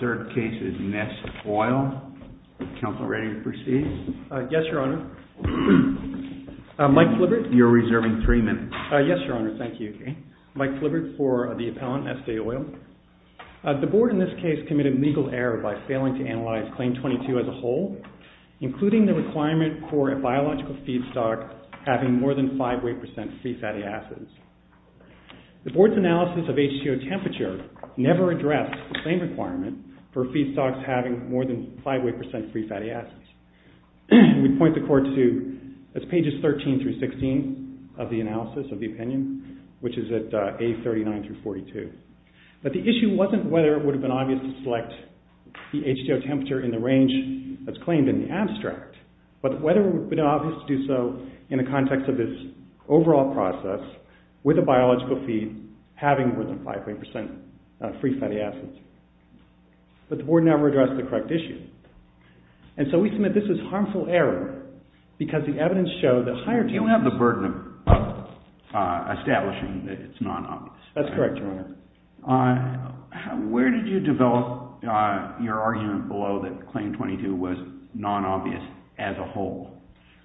The third case is Neste Oil. Counselor, are you ready to proceed? Yes, Your Honor. Mike Flippert? Mike Flippert, you're reserving three minutes. Yes, Your Honor. Thank you. Mike Flippert for the appellant, Neste Oil. The Board in this case committed legal error by failing to analyze Claim 22 as a whole, including the requirement for a biological feedstock having more than 5 weight percent free fatty acids. The Board's analysis of H2O temperature never addressed the same requirement for feedstocks having more than 5 weight percent free fatty acids. We point the court to pages 13-16 of the analysis of the opinion, which is at page 39-42. But the issue wasn't whether it would have been obvious to select the H2O temperature in the range that's claimed in the abstract, but whether it would have been obvious to do so in the context of this overall process with a biological feed having more than 5 weight percent free fatty acids. But the Board never addressed the correct issue. And so we submit this as harmful error because the evidence shows that higher... You don't have the burden of establishing that it's non-obvious. That's correct, Your Honor. Where did you develop your argument below that Claim 22 was non-obvious as a whole?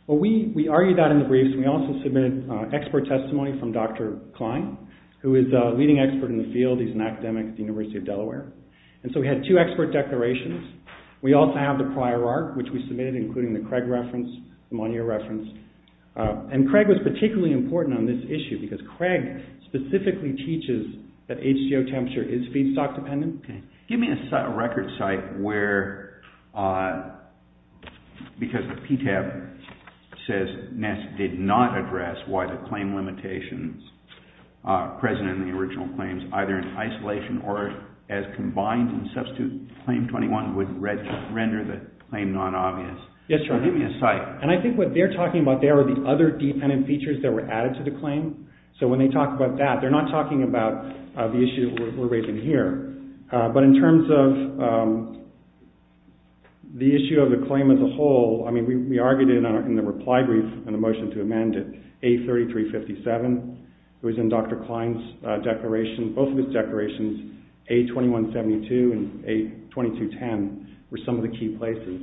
Well, we argued that in the briefs. We also submitted expert testimony from Dr. Klein, who is a leading expert in the field. He's an academic at the University of Delaware. And so we had two expert declarations. We also have the prior arc, which we submitted, including the Craig reference, the Monier reference. And Craig was particularly important on this issue because Craig specifically teaches that H2O temperature is feedstock dependent. Give me a record site where, because the PTAB says NESS did not address why the claim limitations present in the original claims, either in isolation or as combined and substitute, Claim 21 would render the claim non-obvious. Yes, Your Honor. Give me a site. And I think what they're talking about there are the other dependent features that were added to the claim. So when they talk about that, they're not talking about the issue we're raising here. But in terms of the issue of the claim as a whole, I mean, we argued it in the reply brief and the motion to amend it, A3357. It was in Dr. Klein's declaration. Both of his declarations, A2172 and A2210, were some of the key places.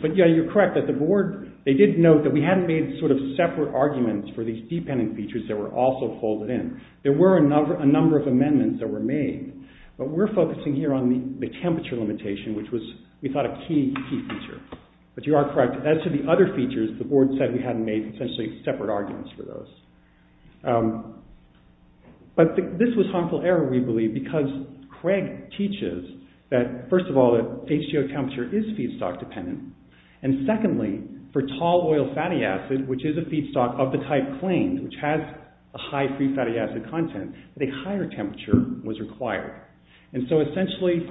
But yeah, you're correct that the board, they did note that we hadn't made sort of separate arguments for these dependent features that were also folded in. There were a number of amendments that were made. But we're focusing here on the temperature limitation, which was, we thought, a key feature. But you are correct, as to the other features, the board said we hadn't made, essentially, separate arguments for those. But this was harmful error, we believe, because Craig teaches that, first of all, that HGO temperature is feedstock dependent. And secondly, for tall oil fatty acid, which is a feedstock of the type claimed, which has a high free fatty acid content, that a higher temperature was required. And so, essentially,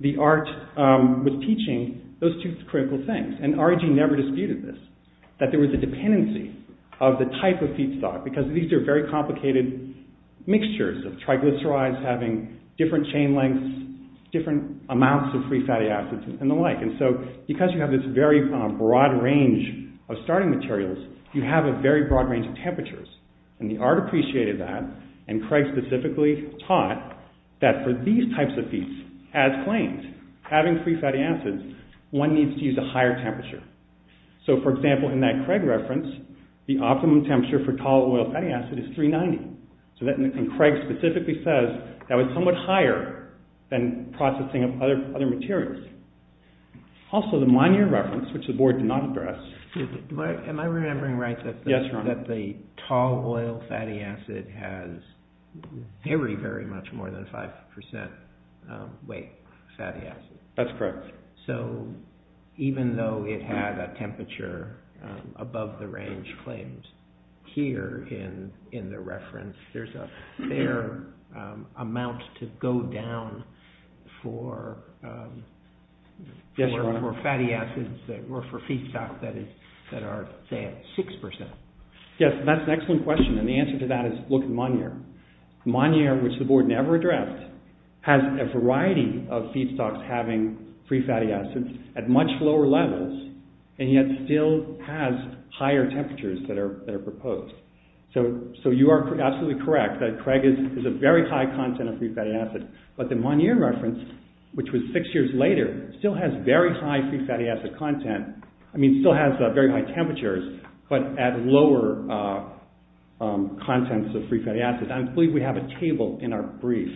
the art was teaching those two critical things. And REG never disputed this, that there was a dependency of the type of feedstock, because these are very complicated mixtures of triglycerides having different chain lengths, different amounts of free fatty acids, and the like. And so, because you have this very broad range of starting materials, you have a very broad range of temperatures. And the art appreciated that, and Craig specifically taught that for these types of feeds, as claimed, having free fatty acids, one needs to use a higher temperature. So, for example, in that Craig reference, the optimum temperature for tall oil fatty acid is 390. And Craig specifically says that was somewhat higher than processing of other materials. Also, the Monier reference, which the board did not address… Tall oil fatty acid has very, very much more than 5% weight fatty acid. That's correct. So, even though it had a temperature above the range claimed here in the reference, there's a fair amount to go down for fatty acids or for feedstock that are, say, at 6%. Yes, that's an excellent question, and the answer to that is look at Monier. Monier, which the board never addressed, has a variety of feedstocks having free fatty acids at much lower levels, and yet still has higher temperatures that are proposed. So, you are absolutely correct that Craig is a very high content of free fatty acids, but the Monier reference, which was six years later, still has very high free fatty acid content. I mean, it still has very high temperatures, but at lower contents of free fatty acids. I believe we have a table in our brief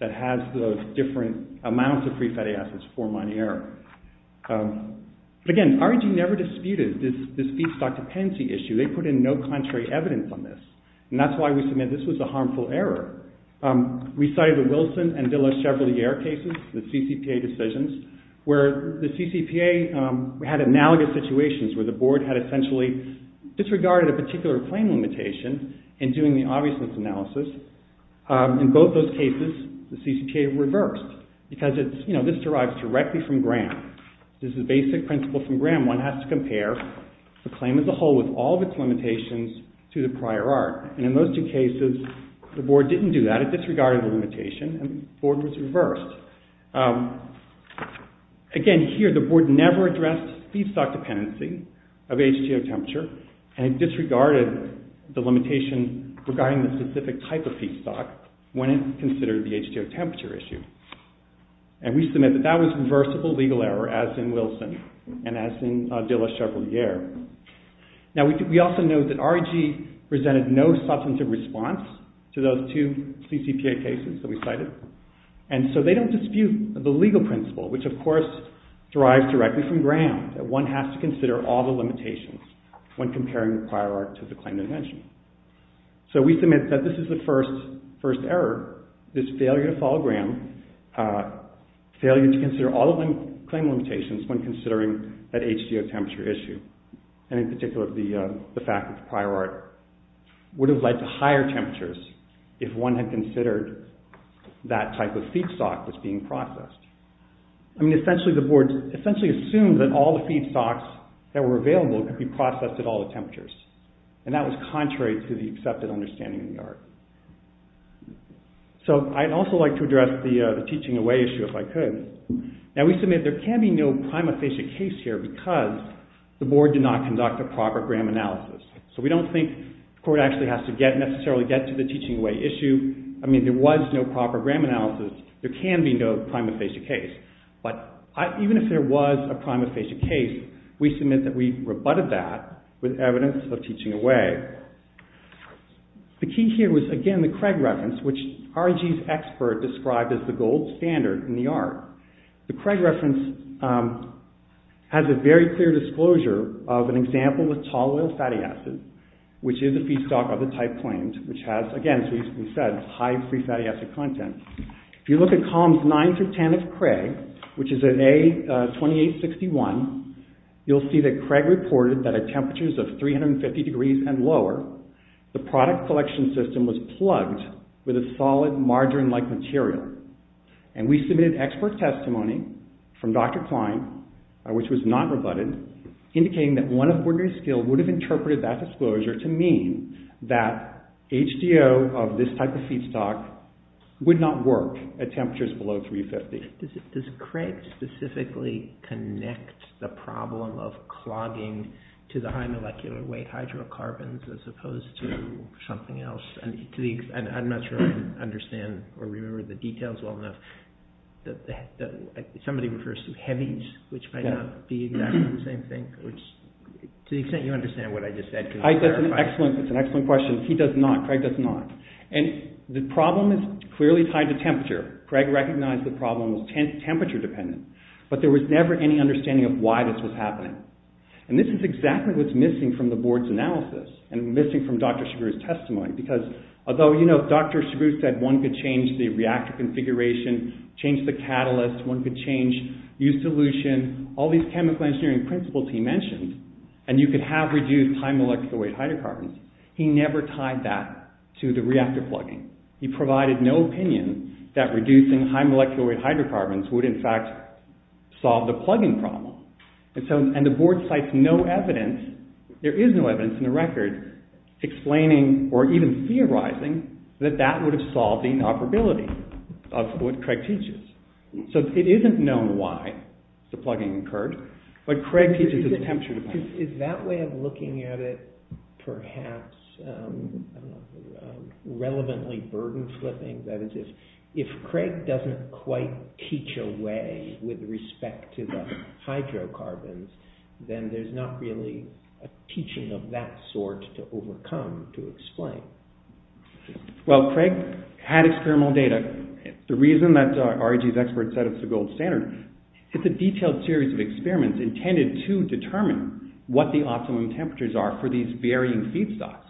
that has the different amounts of free fatty acids for Monier. But again, R&D never disputed this feedstock dependency issue. They put in no contrary evidence on this, and that's why we submit this was a harmful error. We cited the Wilson and Villa-Chevalier cases, the CCPA decisions, where the CCPA had analogous situations where the board had essentially disregarded a particular claim limitation in doing the obviousness analysis. In both those cases, the CCPA reversed, because this derives directly from Graham. This is the basic principle from Graham. One has to compare the claim as a whole with all of its limitations to the prior art. And in those two cases, the board didn't do that. It disregarded the limitation, and the board was reversed. Again, here, the board never addressed feedstock dependency of H2O temperature, and disregarded the limitation regarding the specific type of feedstock when it considered the H2O temperature issue. And we submit that that was reversible legal error, as in Wilson and as in Villa-Chevalier. Now, we also note that REG presented no substantive response to those two CCPA cases that we cited, and so they don't dispute the legal principle, which of course derives directly from Graham, that one has to consider all the limitations when comparing the prior art to the claim dimension. So we submit that this is the first error, this failure to follow Graham, failure to consider all of the claim limitations when considering that H2O temperature issue, and in particular, the fact that the prior art would have led to higher temperatures if one had considered that type of feedstock was being processed. I mean, essentially, the board assumed that all the feedstocks that were available could be processed at all the temperatures, and that was contrary to the accepted understanding of the art. So, I'd also like to address the teaching away issue, if I could. Now, we submit that there can be no prima facie case here because the board did not conduct a proper Graham analysis. So we don't think the court actually has to necessarily get to the teaching away issue. I mean, there was no proper Graham analysis. There can be no prima facie case. But even if there was a prima facie case, we submit that we rebutted that with evidence of teaching away. The key here was, again, the Craig reference, which RIG's expert described as the gold standard in the art. The Craig reference has a very clear disclosure of an example with tall oil fatty acids, which is a feedstock of the type claimed, which has, again, as we said, high free fatty acid content. If you look at columns 9 through 10 of Craig, which is in A2861, you'll see that Craig reported that at temperatures of 350 degrees and lower, the product collection system was plugged with a solid margarine-like material. And we submitted expert testimony from Dr. Klein, which was not rebutted, indicating that one of ordinary skill would have interpreted that disclosure to mean that HDO of this type of feedstock would not work at temperatures below 350. Does Craig specifically connect the problem of clogging to the high molecular weight hydrocarbons as opposed to something else? I'm not sure I understand or remember the details well enough. Somebody refers to heavies, which might not be exactly the same thing. To the extent you understand what I just said, can you clarify? That's an excellent question. He does not. Craig does not. And the problem is clearly tied to temperature. Craig recognized the problem was temperature-dependent, but there was never any understanding of why this was happening. And this is exactly what's missing from the board's analysis and missing from Dr. Chabud's testimony, because although Dr. Chabud said one could change the reactor configuration, change the catalyst, one could change U-solution, all these chemical engineering principles he mentioned, and you could have reduced high molecular weight hydrocarbons, he never tied that to the reactor plugging. He provided no opinion that reducing high molecular weight hydrocarbons would in fact solve the plugging problem. And the board cites no evidence, there is no evidence in the record, explaining or even theorizing that that would have solved the inoperability of what Craig teaches. So it isn't known why the plugging occurred, but Craig teaches it's temperature-dependent. Is that way of looking at it perhaps relevantly burden-flipping? That is, if Craig doesn't quite teach a way with respect to the hydrocarbons, then there's not really a teaching of that sort to overcome to explain. Well, Craig had experimental data. The reason that REG's experts said it's the gold standard is that it's a detailed series of experiments intended to determine what the optimum temperatures are for these varying feedstocks.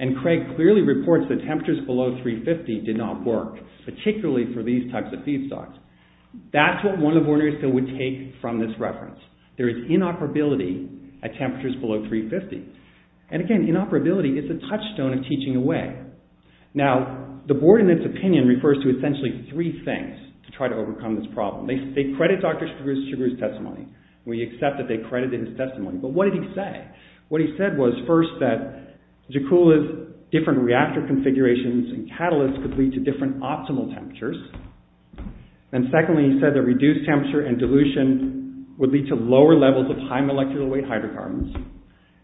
And Craig clearly reports that temperatures below 350 did not work, particularly for these types of feedstocks. That's what one of the board members would take from this reference. There is inoperability at temperatures below 350. And again, inoperability is a touchstone of teaching away. Now, the board in its opinion refers to essentially three things to try to overcome this problem. They credit Dr. Chigurh's testimony. We accept that they credited his testimony. But what did he say? What he said was, first, that Jakula's different reactor configurations and catalysts could lead to different optimal temperatures. And secondly, he said that reduced temperature and dilution would lead to lower levels of high molecular weight hydrocarbons.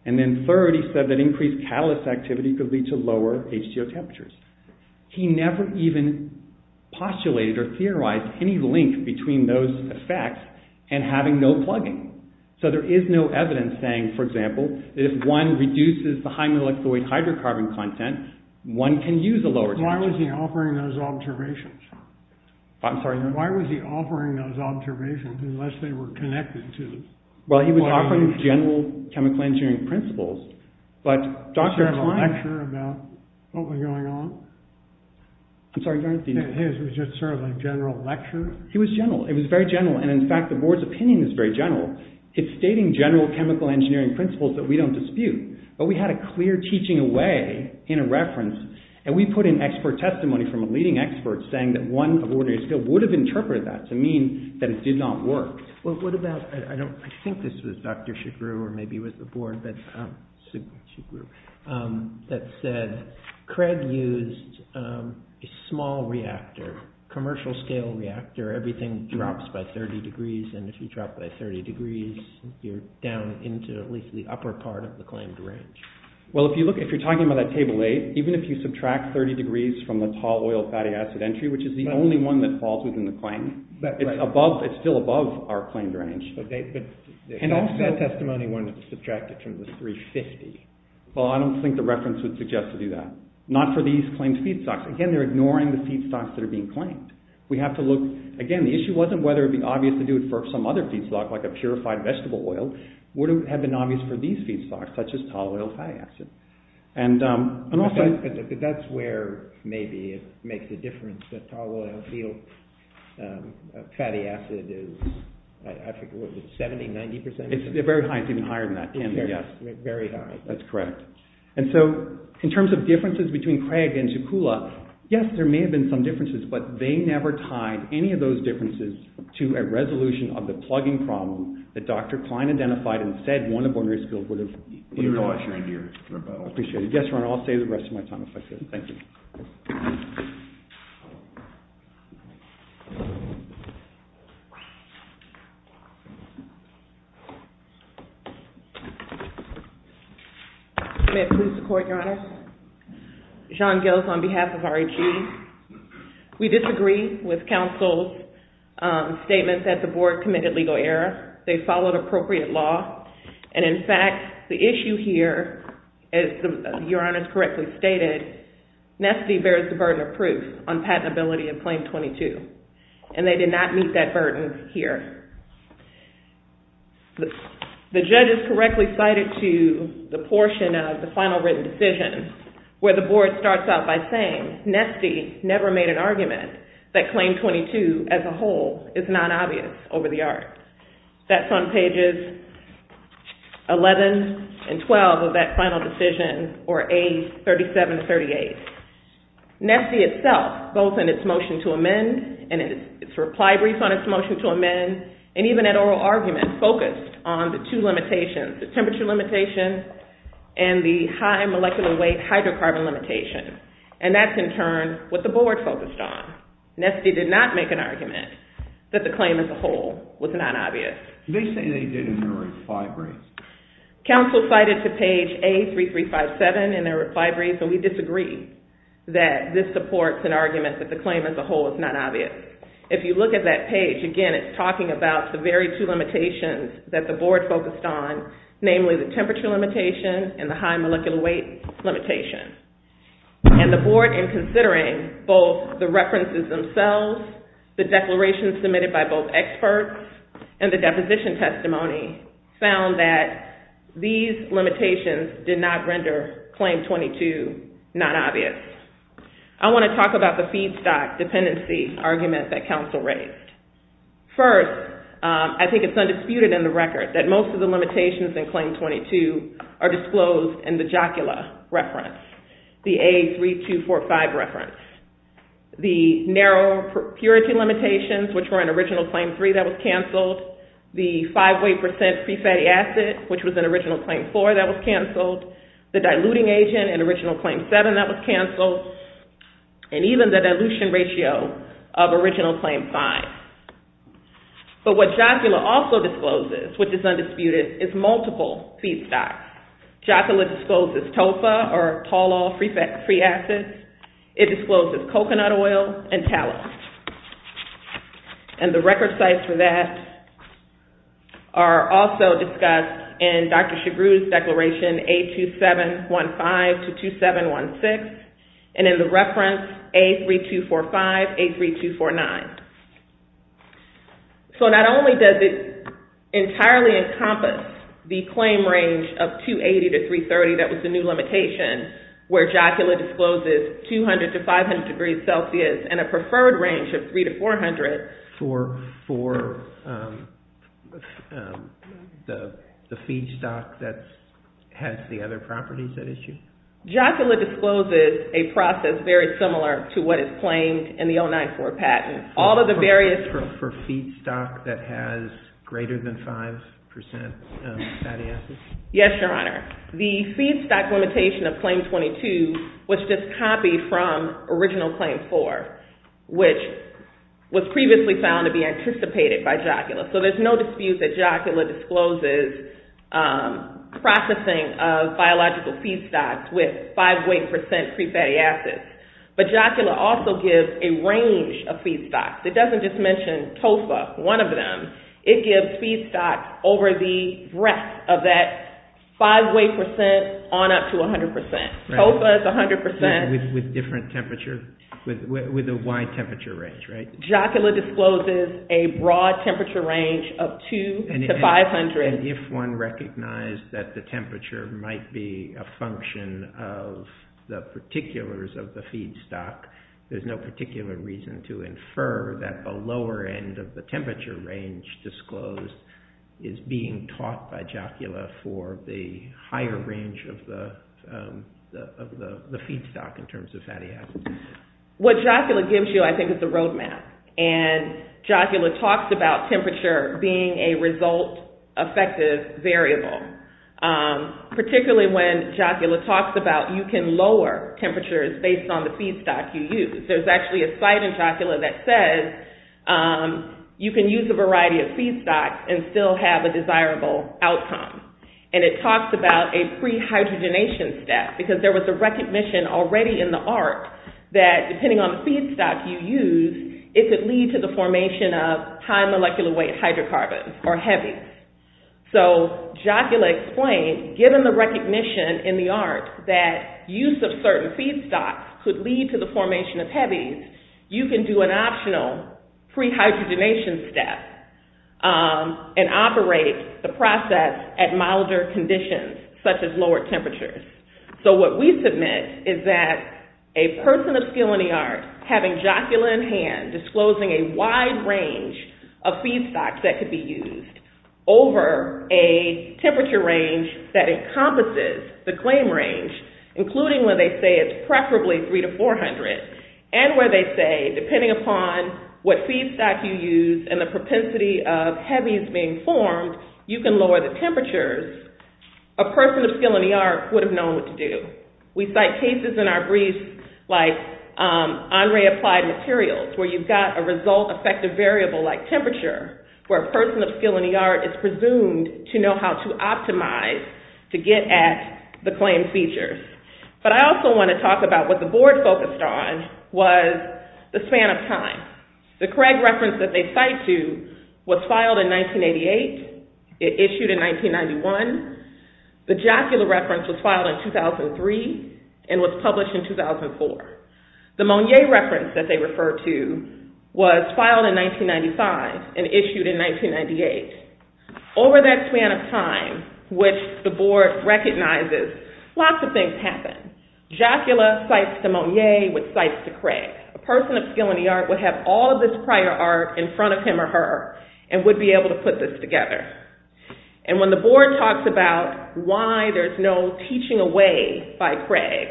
And then third, he said that increased catalyst activity could lead to lower H2O temperatures. He never even postulated or theorized any link between those effects and having no plugging. So there is no evidence saying, for example, that if one reduces the high molecular weight hydrocarbon content, one can use a lower temperature. Why was he offering those observations? I'm sorry? Why was he offering those observations unless they were connected to the… Well, he was offering general chemical engineering principles, but Dr. Klein… Was there a general lecture about what was going on? I'm sorry. His was just sort of a general lecture. He was general. It was very general. And in fact, the board's opinion is very general. It's stating general chemical engineering principles that we don't dispute. But we had a clear teaching away in a reference, and we put in expert testimony from a leading expert saying that one of ordinary skill would have interpreted that to mean that it did not work. Well, what about… I think this was Dr. Chigurh or maybe it was the board, but Chigurh, that said Craig used a small reactor, commercial-scale reactor. Everything drops by 30 degrees, and if you drop by 30 degrees, you're down into at least the upper part of the claimed range. Well, if you're talking about that Table 8, even if you subtract 30 degrees from the tall oil fatty acid entry, which is the only one that falls within the claim, it's still above our claimed range. And also… That testimony wanted to subtract it from the 350. Well, I don't think the reference would suggest to do that. Not for these claimed feedstocks. Again, they're ignoring the feedstocks that are being claimed. We have to look… Again, the issue wasn't whether it would be obvious to do it for some other feedstock, like a purified vegetable oil. Would it have been obvious for these feedstocks, such as tall oil fatty acid? And also… But that's where maybe it makes a difference that tall oil field fatty acid is… I think it was 70, 90%? It's very high. It's even higher than that. Very high. That's correct. And so, in terms of differences between Craig and Shukula, yes, there may have been some differences, but they never tied any of those differences to a resolution of the plugging problem that Dr. Klein identified and said one of ordinary skills would have… You're an awesome idea, Robo. I appreciate it. Yes, Ron, I'll save the rest of my time if I could. Thank you. May it please the Court, Your Honor? John Gills on behalf of RHE. We disagree with counsel's statement that the board committed legal error. They followed appropriate law. And, in fact, the issue here, as Your Honor has correctly stated, and on patentability. And they did not meet that burden here. The judge has correctly cited to the portion of the final written decision where the board starts out by saying Nesty never made an argument that Claim 22 as a whole is not obvious over the art. That's on pages 11 and 12 of that final decision, or A37-38. Nesty itself, both in its motion to amend and its reply brief on its motion to amend, and even at oral argument, focused on the two limitations, the temperature limitation and the high molecular weight hydrocarbon limitation. And that's, in turn, what the board focused on. Nesty did not make an argument that the claim as a whole was not obvious. They say they did in their reply brief. Counsel cited to page A3357 in their reply brief, and we disagree that this supports an argument that the claim as a whole is not obvious. If you look at that page, again, it's talking about the very two limitations that the board focused on, namely the temperature limitation and the high molecular weight limitation. And the board, in considering both the references themselves, the declarations submitted by both experts, and the deposition testimony, found that these limitations did not render Claim 22 not obvious. I want to talk about the feedstock dependency argument that counsel raised. First, I think it's undisputed in the record that most of the limitations in Claim 22 are disclosed in the Jocula reference, the A3245 reference. The narrow purity limitations, which were in original Claim 3 that was canceled, the 5 weight percent free fatty acid, which was in original Claim 4 that was canceled, the diluting agent in original Claim 7 that was canceled, and even the dilution ratio of original Claim 5. But what Jocula also discloses, which is undisputed, is multiple feedstocks. Jocula discloses TOFA, or tall oil free fatty acids. It discloses coconut oil and talc. And the record sites for that are also discussed in Dr. Chigrou's declaration, A2715 to 2716, and in the reference A3245, A3249. So not only does it entirely encompass the claim range of 280 to 330, that was the new limitation, where Jocula discloses 200 to 500 degrees Celsius, and a preferred range of 300 to 400. For the feedstock that has the other properties at issue? Jocula discloses a process very similar to what is claimed in the 094 patent. All of the various... For feedstock that has greater than 5% fatty acids? Yes, Your Honor. The feedstock limitation of Claim 22 was just copied from Original Claim 4, which was previously found to be anticipated by Jocula. So there's no dispute that Jocula discloses processing of biological feedstocks with 5 weight percent free fatty acids. But Jocula also gives a range of feedstocks. It doesn't just mention TOFA, one of them. It gives feedstocks over the breadth of that 5 weight percent on up to 100%. TOFA is 100%. With different temperatures? With a wide temperature range, right? Jocula discloses a broad temperature range of 200 to 500. And if one recognized that the temperature might be a function of the particulars of the feedstock, there's no particular reason to infer that the lower end of the temperature range disclosed is being taught by Jocula for the higher range of the feedstock in terms of fatty acids. What Jocula gives you, I think, is a roadmap. And Jocula talks about temperature being a result-effective variable. Particularly when Jocula talks about you can lower temperatures based on the feedstock you use. There's actually a site in Jocula that says you can use a variety of feedstocks and still have a desirable outcome. And it talks about a pre-hydrogenation step because there was a recognition already in the ARC that depending on the feedstock you use, it could lead to the formation of high molecular weight hydrocarbons or heavies. So Jocula explained, given the recognition in the ARC that use of certain feedstocks could lead to the formation of heavies, you can do an optional pre-hydrogenation step and operate the process at milder conditions such as lower temperatures. So what we submit is that a person of skill in the ARC having Jocula in hand, disclosing a wide range of feedstocks that could be used over a temperature range that encompasses the claim range, including when they say it's preferably 300 to 400, and where they say, depending upon what feedstock you use and the propensity of heavies being formed, you can lower the temperatures, a person of skill in the ARC would have known what to do. We cite cases in our briefs like on-ray applied materials, where you've got a result-effective variable like temperature, where a person of skill in the ARC is presumed to know how to optimize to get at the claimed features. But I also want to talk about what the board focused on was the span of time. The Craig reference that they cite to was filed in 1988. It issued in 1991. The Jocula reference was filed in 2003 and was published in 2004. The Monier reference that they refer to was filed in 1995 and issued in 1998. Over that span of time, which the board recognizes, lots of things happen. Jocula cites to Monier, which cites to Craig. A person of skill in the ARC would have all of this prior ARC in front of him or her and would be able to put this together. And when the board talks about why there's no teaching away by Craig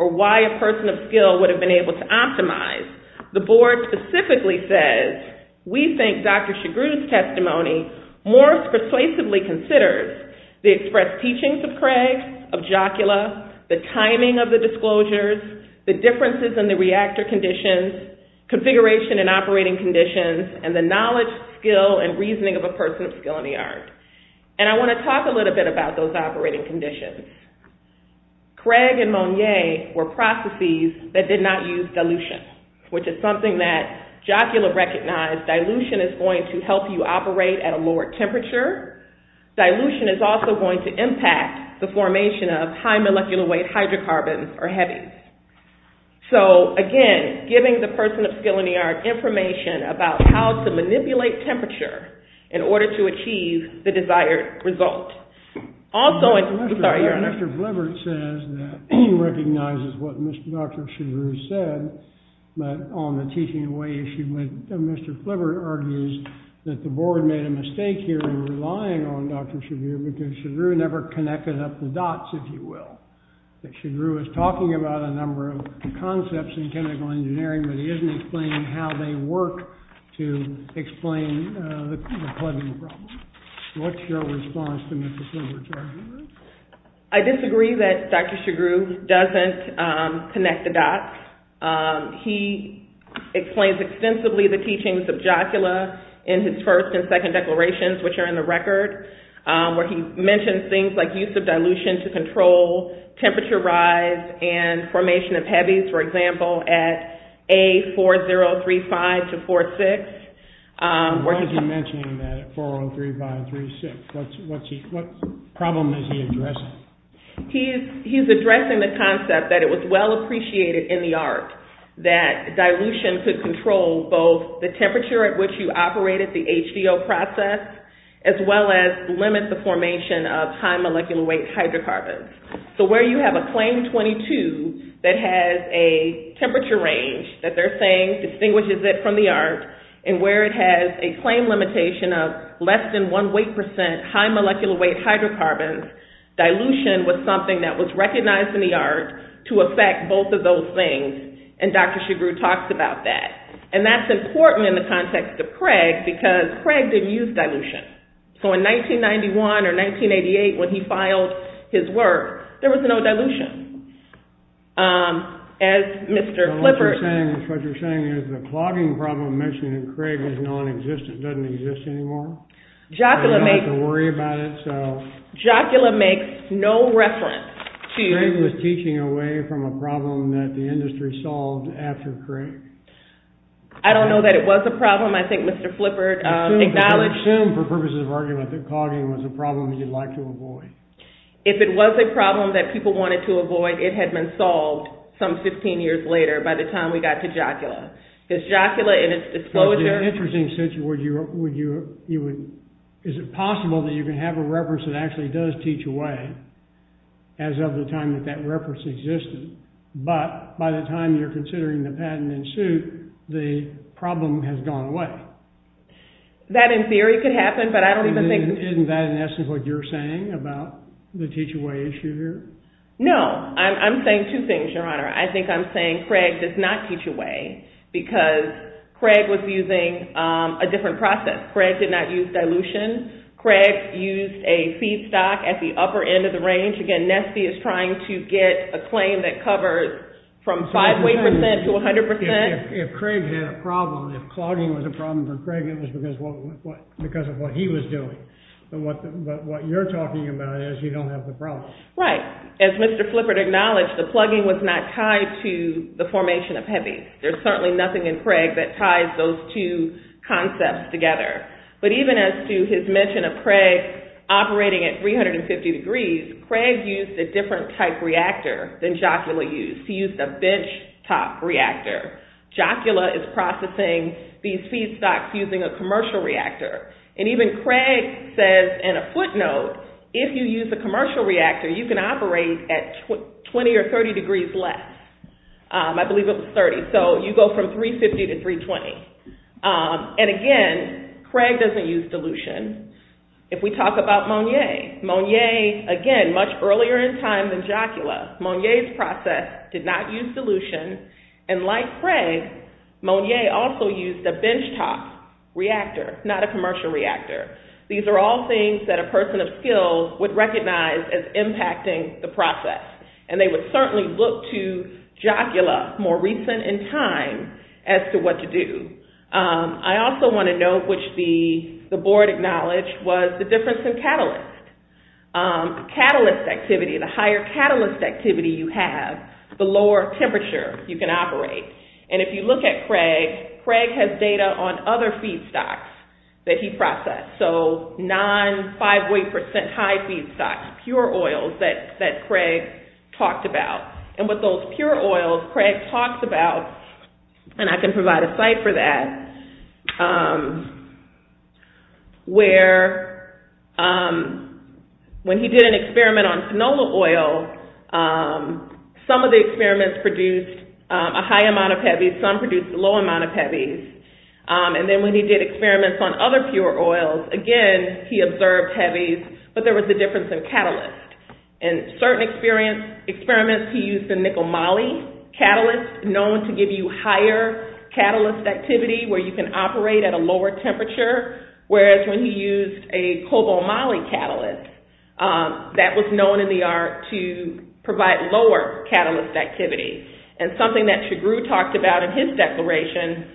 or why a person of skill would have been able to optimize, the board specifically says, we think Dr. Chigrou's testimony more persuasively considers the expressed teachings of Craig, of Jocula, the timing of the disclosures, the differences in the reactor conditions, configuration and operating conditions, and the knowledge, skill, and reasoning of a person of skill in the ARC. And I want to talk a little bit about those operating conditions. Craig and Monier were processes that did not use dilution, which is something that Jocula recognized. Dilution is going to help you operate at a lower temperature. Dilution is also going to impact the formation of high molecular weight hydrocarbons or heavy. So, again, giving the person of skill in the ARC information about how to manipulate temperature in order to achieve the desired result. Also, I'm sorry, Your Honor. Mr. Flivert says that he recognizes what Dr. Chigrou said, but on the teaching away issue, Mr. Flivert argues that the board made a mistake here in relying on Dr. Chigrou because Chigrou never connected up the dots, if you will. That Chigrou is talking about a number of concepts in chemical engineering, but he isn't explaining how they work to explain the plugging problem. What's your response to Mr. Flivert's argument? I disagree that Dr. Chigrou doesn't connect the dots. He explains extensively the teachings of Jocula in his first and second declarations, which are in the record, where he mentions things like use of dilution to control temperature rise and formation of heavies, for example, at A4035-46. Why is he mentioning that at 4035-46? What problem is he addressing? He's addressing the concept that it was well appreciated in the ARC that dilution could control both the temperature at which you operated the HVO process as well as limit the formation of high molecular weight hydrocarbons. So where you have a claim 22 that has a temperature range that they're saying distinguishes it from the ARC, and where it has a claim limitation of less than 1 weight percent high molecular weight hydrocarbons, dilution was something that was recognized in the ARC to affect both of those things, and Dr. Chigrou talks about that. And that's important in the context of Craig, because Craig didn't use dilution. So in 1991 or 1988, when he filed his work, there was no dilution. As Mr. Flippert... What you're saying is the clogging problem mentioned in Craig is nonexistent, doesn't exist anymore. Craig was teaching away from a problem that the industry solved after Craig. I don't know that it was a problem. I think Mr. Flippert acknowledged... Assume, for purposes of argument, that clogging was a problem that you'd like to avoid. If it was a problem that people wanted to avoid, it had been solved some 15 years later by the time we got to Jocula. Because Jocula, in its disclosure... It's an interesting situation. Is it possible that you can have a reference that actually does teach away as of the time that that reference existed? But by the time you're considering the patent in suit, the problem has gone away. That, in theory, could happen, but I don't even think... Isn't that, in essence, what you're saying about the teach-away issue here? No. I'm saying two things, Your Honor. I think I'm saying Craig does not teach away because Craig was using a different process. Craig did not use dilution. Craig used a feedstock at the upper end of the range. Again, Nesty is trying to get a claim that covers from 5-way percent to 100%. If Craig had a problem, if clogging was a problem for Craig, it was because of what he was doing. But what you're talking about is you don't have the problem. Right. As Mr. Flippert acknowledged, the plugging was not tied to the formation of heavy. There's certainly nothing in Craig that ties those two concepts together. But even as to his mention of Craig operating at 350 degrees, Craig used a different type reactor than Jocula used. He used a benchtop reactor. Jocula is processing these feedstocks using a commercial reactor. And even Craig says in a footnote, if you use a commercial reactor, you can operate at 20 or 30 degrees less. I believe it was 30. So you go from 350 to 320. And again, Craig doesn't use dilution. If we talk about Monier, Monier, again, much earlier in time than Jocula, Monier's process did not use dilution. And like Craig, Monier also used a benchtop reactor, not a commercial reactor. These are all things that a person of skill would recognize as impacting the process. And they would certainly look to Jocula more recent in time as to what to do. I also want to note, which the board acknowledged, was the difference in catalyst. Catalyst activity, the higher catalyst activity you have, the lower temperature you can operate. And if you look at Craig, Craig has data on other feedstocks that he processed. So non-5 weight percent high feedstocks, pure oils that Craig talked about. And with those pure oils, Craig talks about, and I can provide a site for that, where when he did an experiment on canola oil, some of the experiments produced a high amount of heavies, some produced a low amount of heavies. And then when he did experiments on other pure oils, again, he observed heavies, but there was a difference in catalyst. In certain experiments, he used the nickel moly catalyst, known to give you higher catalyst activity, where you can operate at a lower temperature. Whereas when he used a cobalt moly catalyst, that was known in the art to provide lower catalyst activity. And something that Chagrou talked about in his declaration,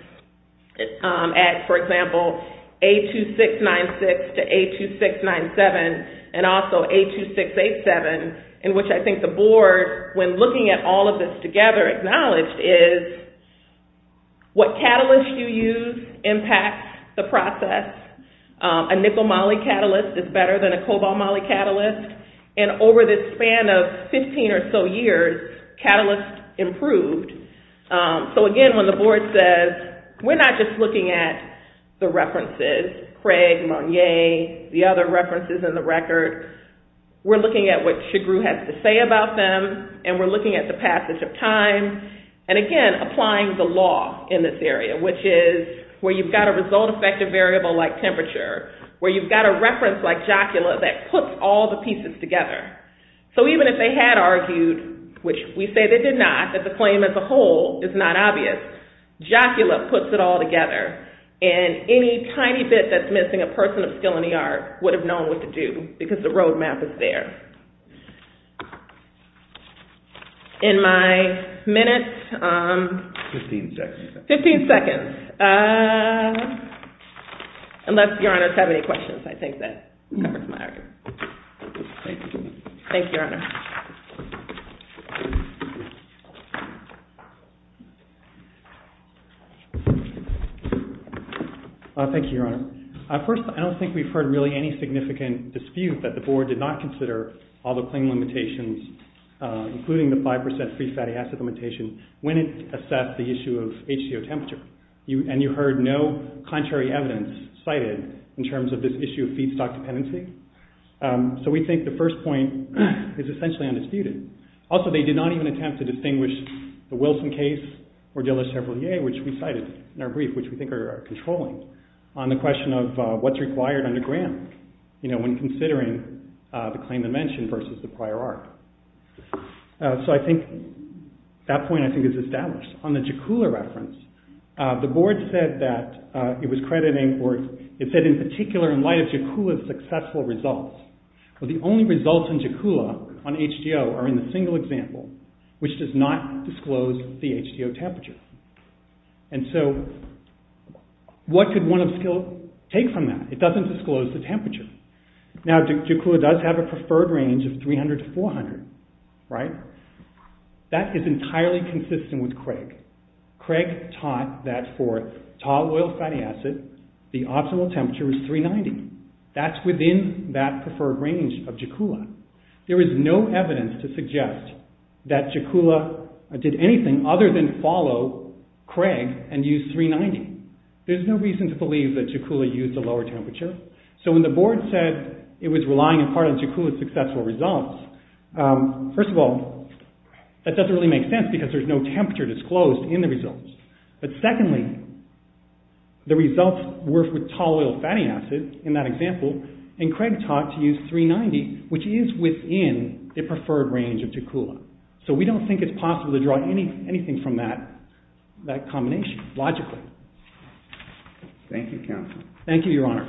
at, for example, A2696 to A2697, and also A2687, in which I think the board, when looking at all of this together, acknowledged is what catalyst you use impacts the process. A nickel moly catalyst is better than a cobalt moly catalyst. And over the span of 15 or so years, catalyst improved. So again, when the board says, we're not just looking at the references, Craig, Monye, the other references in the record, we're looking at what Chagrou has to say about them, and we're looking at the passage of time, and again, applying the law in this area, which is where you've got a result effective variable like temperature, where you've got a reference like Jocula that puts all the pieces together. So even if they had argued, which we say they did not, that the claim as a whole is not obvious, Jocula puts it all together, and any tiny bit that's missing a person of skill in the art would have known what to do, because the roadmap is there. In my minute... 15 seconds. 15 seconds. Unless Your Honor has any questions, I think that covers my argument. Thank you. Thank you, Your Honor. Thank you, Your Honor. First, I don't think we've heard really any significant dispute that the Board did not consider all the claim limitations, including the 5% free fatty acid limitation, when it assessed the issue of HCO temperature. And you heard no contrary evidence cited in terms of this issue of feedstock dependency. So we think the first point is essentially undisputed. Also, they did not even attempt to distinguish the Wilson case or De La Chevrolet, which we cited in our brief, which we think are controlling, on the question of what's required underground when considering the claim dimension versus the prior art. So I think... that point, I think, is established. On the Jocula reference, the Board said that it was crediting... it said in particular, in light of Jocula's successful results, that the only results in Jocula on HCO are in the single example, which does not disclose the HCO temperature. And so, what could one of skill take from that? It doesn't disclose the temperature. Now, Jocula does have a preferred range of 300 to 400, right? That is entirely consistent with Craig. Craig taught that for tall oil fatty acid, the optimal temperature is 390. That's within that preferred range of Jocula. There is no evidence to suggest that Jocula did anything other than follow Craig and use 390. There's no reason to believe that Jocula used a lower temperature. So when the Board said it was relying upon Jocula's successful results, first of all, that doesn't really make sense because there's no temperature disclosed in the results. But secondly, the results were for tall oil fatty acid, in that example, and Craig taught to use 390, which is within the preferred range of Jocula. So we don't think it's possible to draw anything from that combination, logically. Thank you, counsel. Thank you, Your Honor.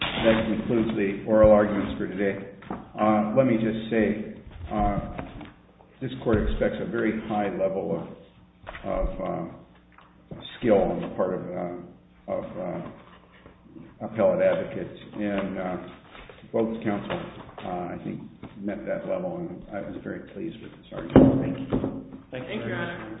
That concludes the oral arguments for today. Let me just say, this Court expects a very high level of skill on the part of appellate advocates, and both counsel, I think, met that level. I was very pleased with this argument. Thank you. Thank you, Your Honor.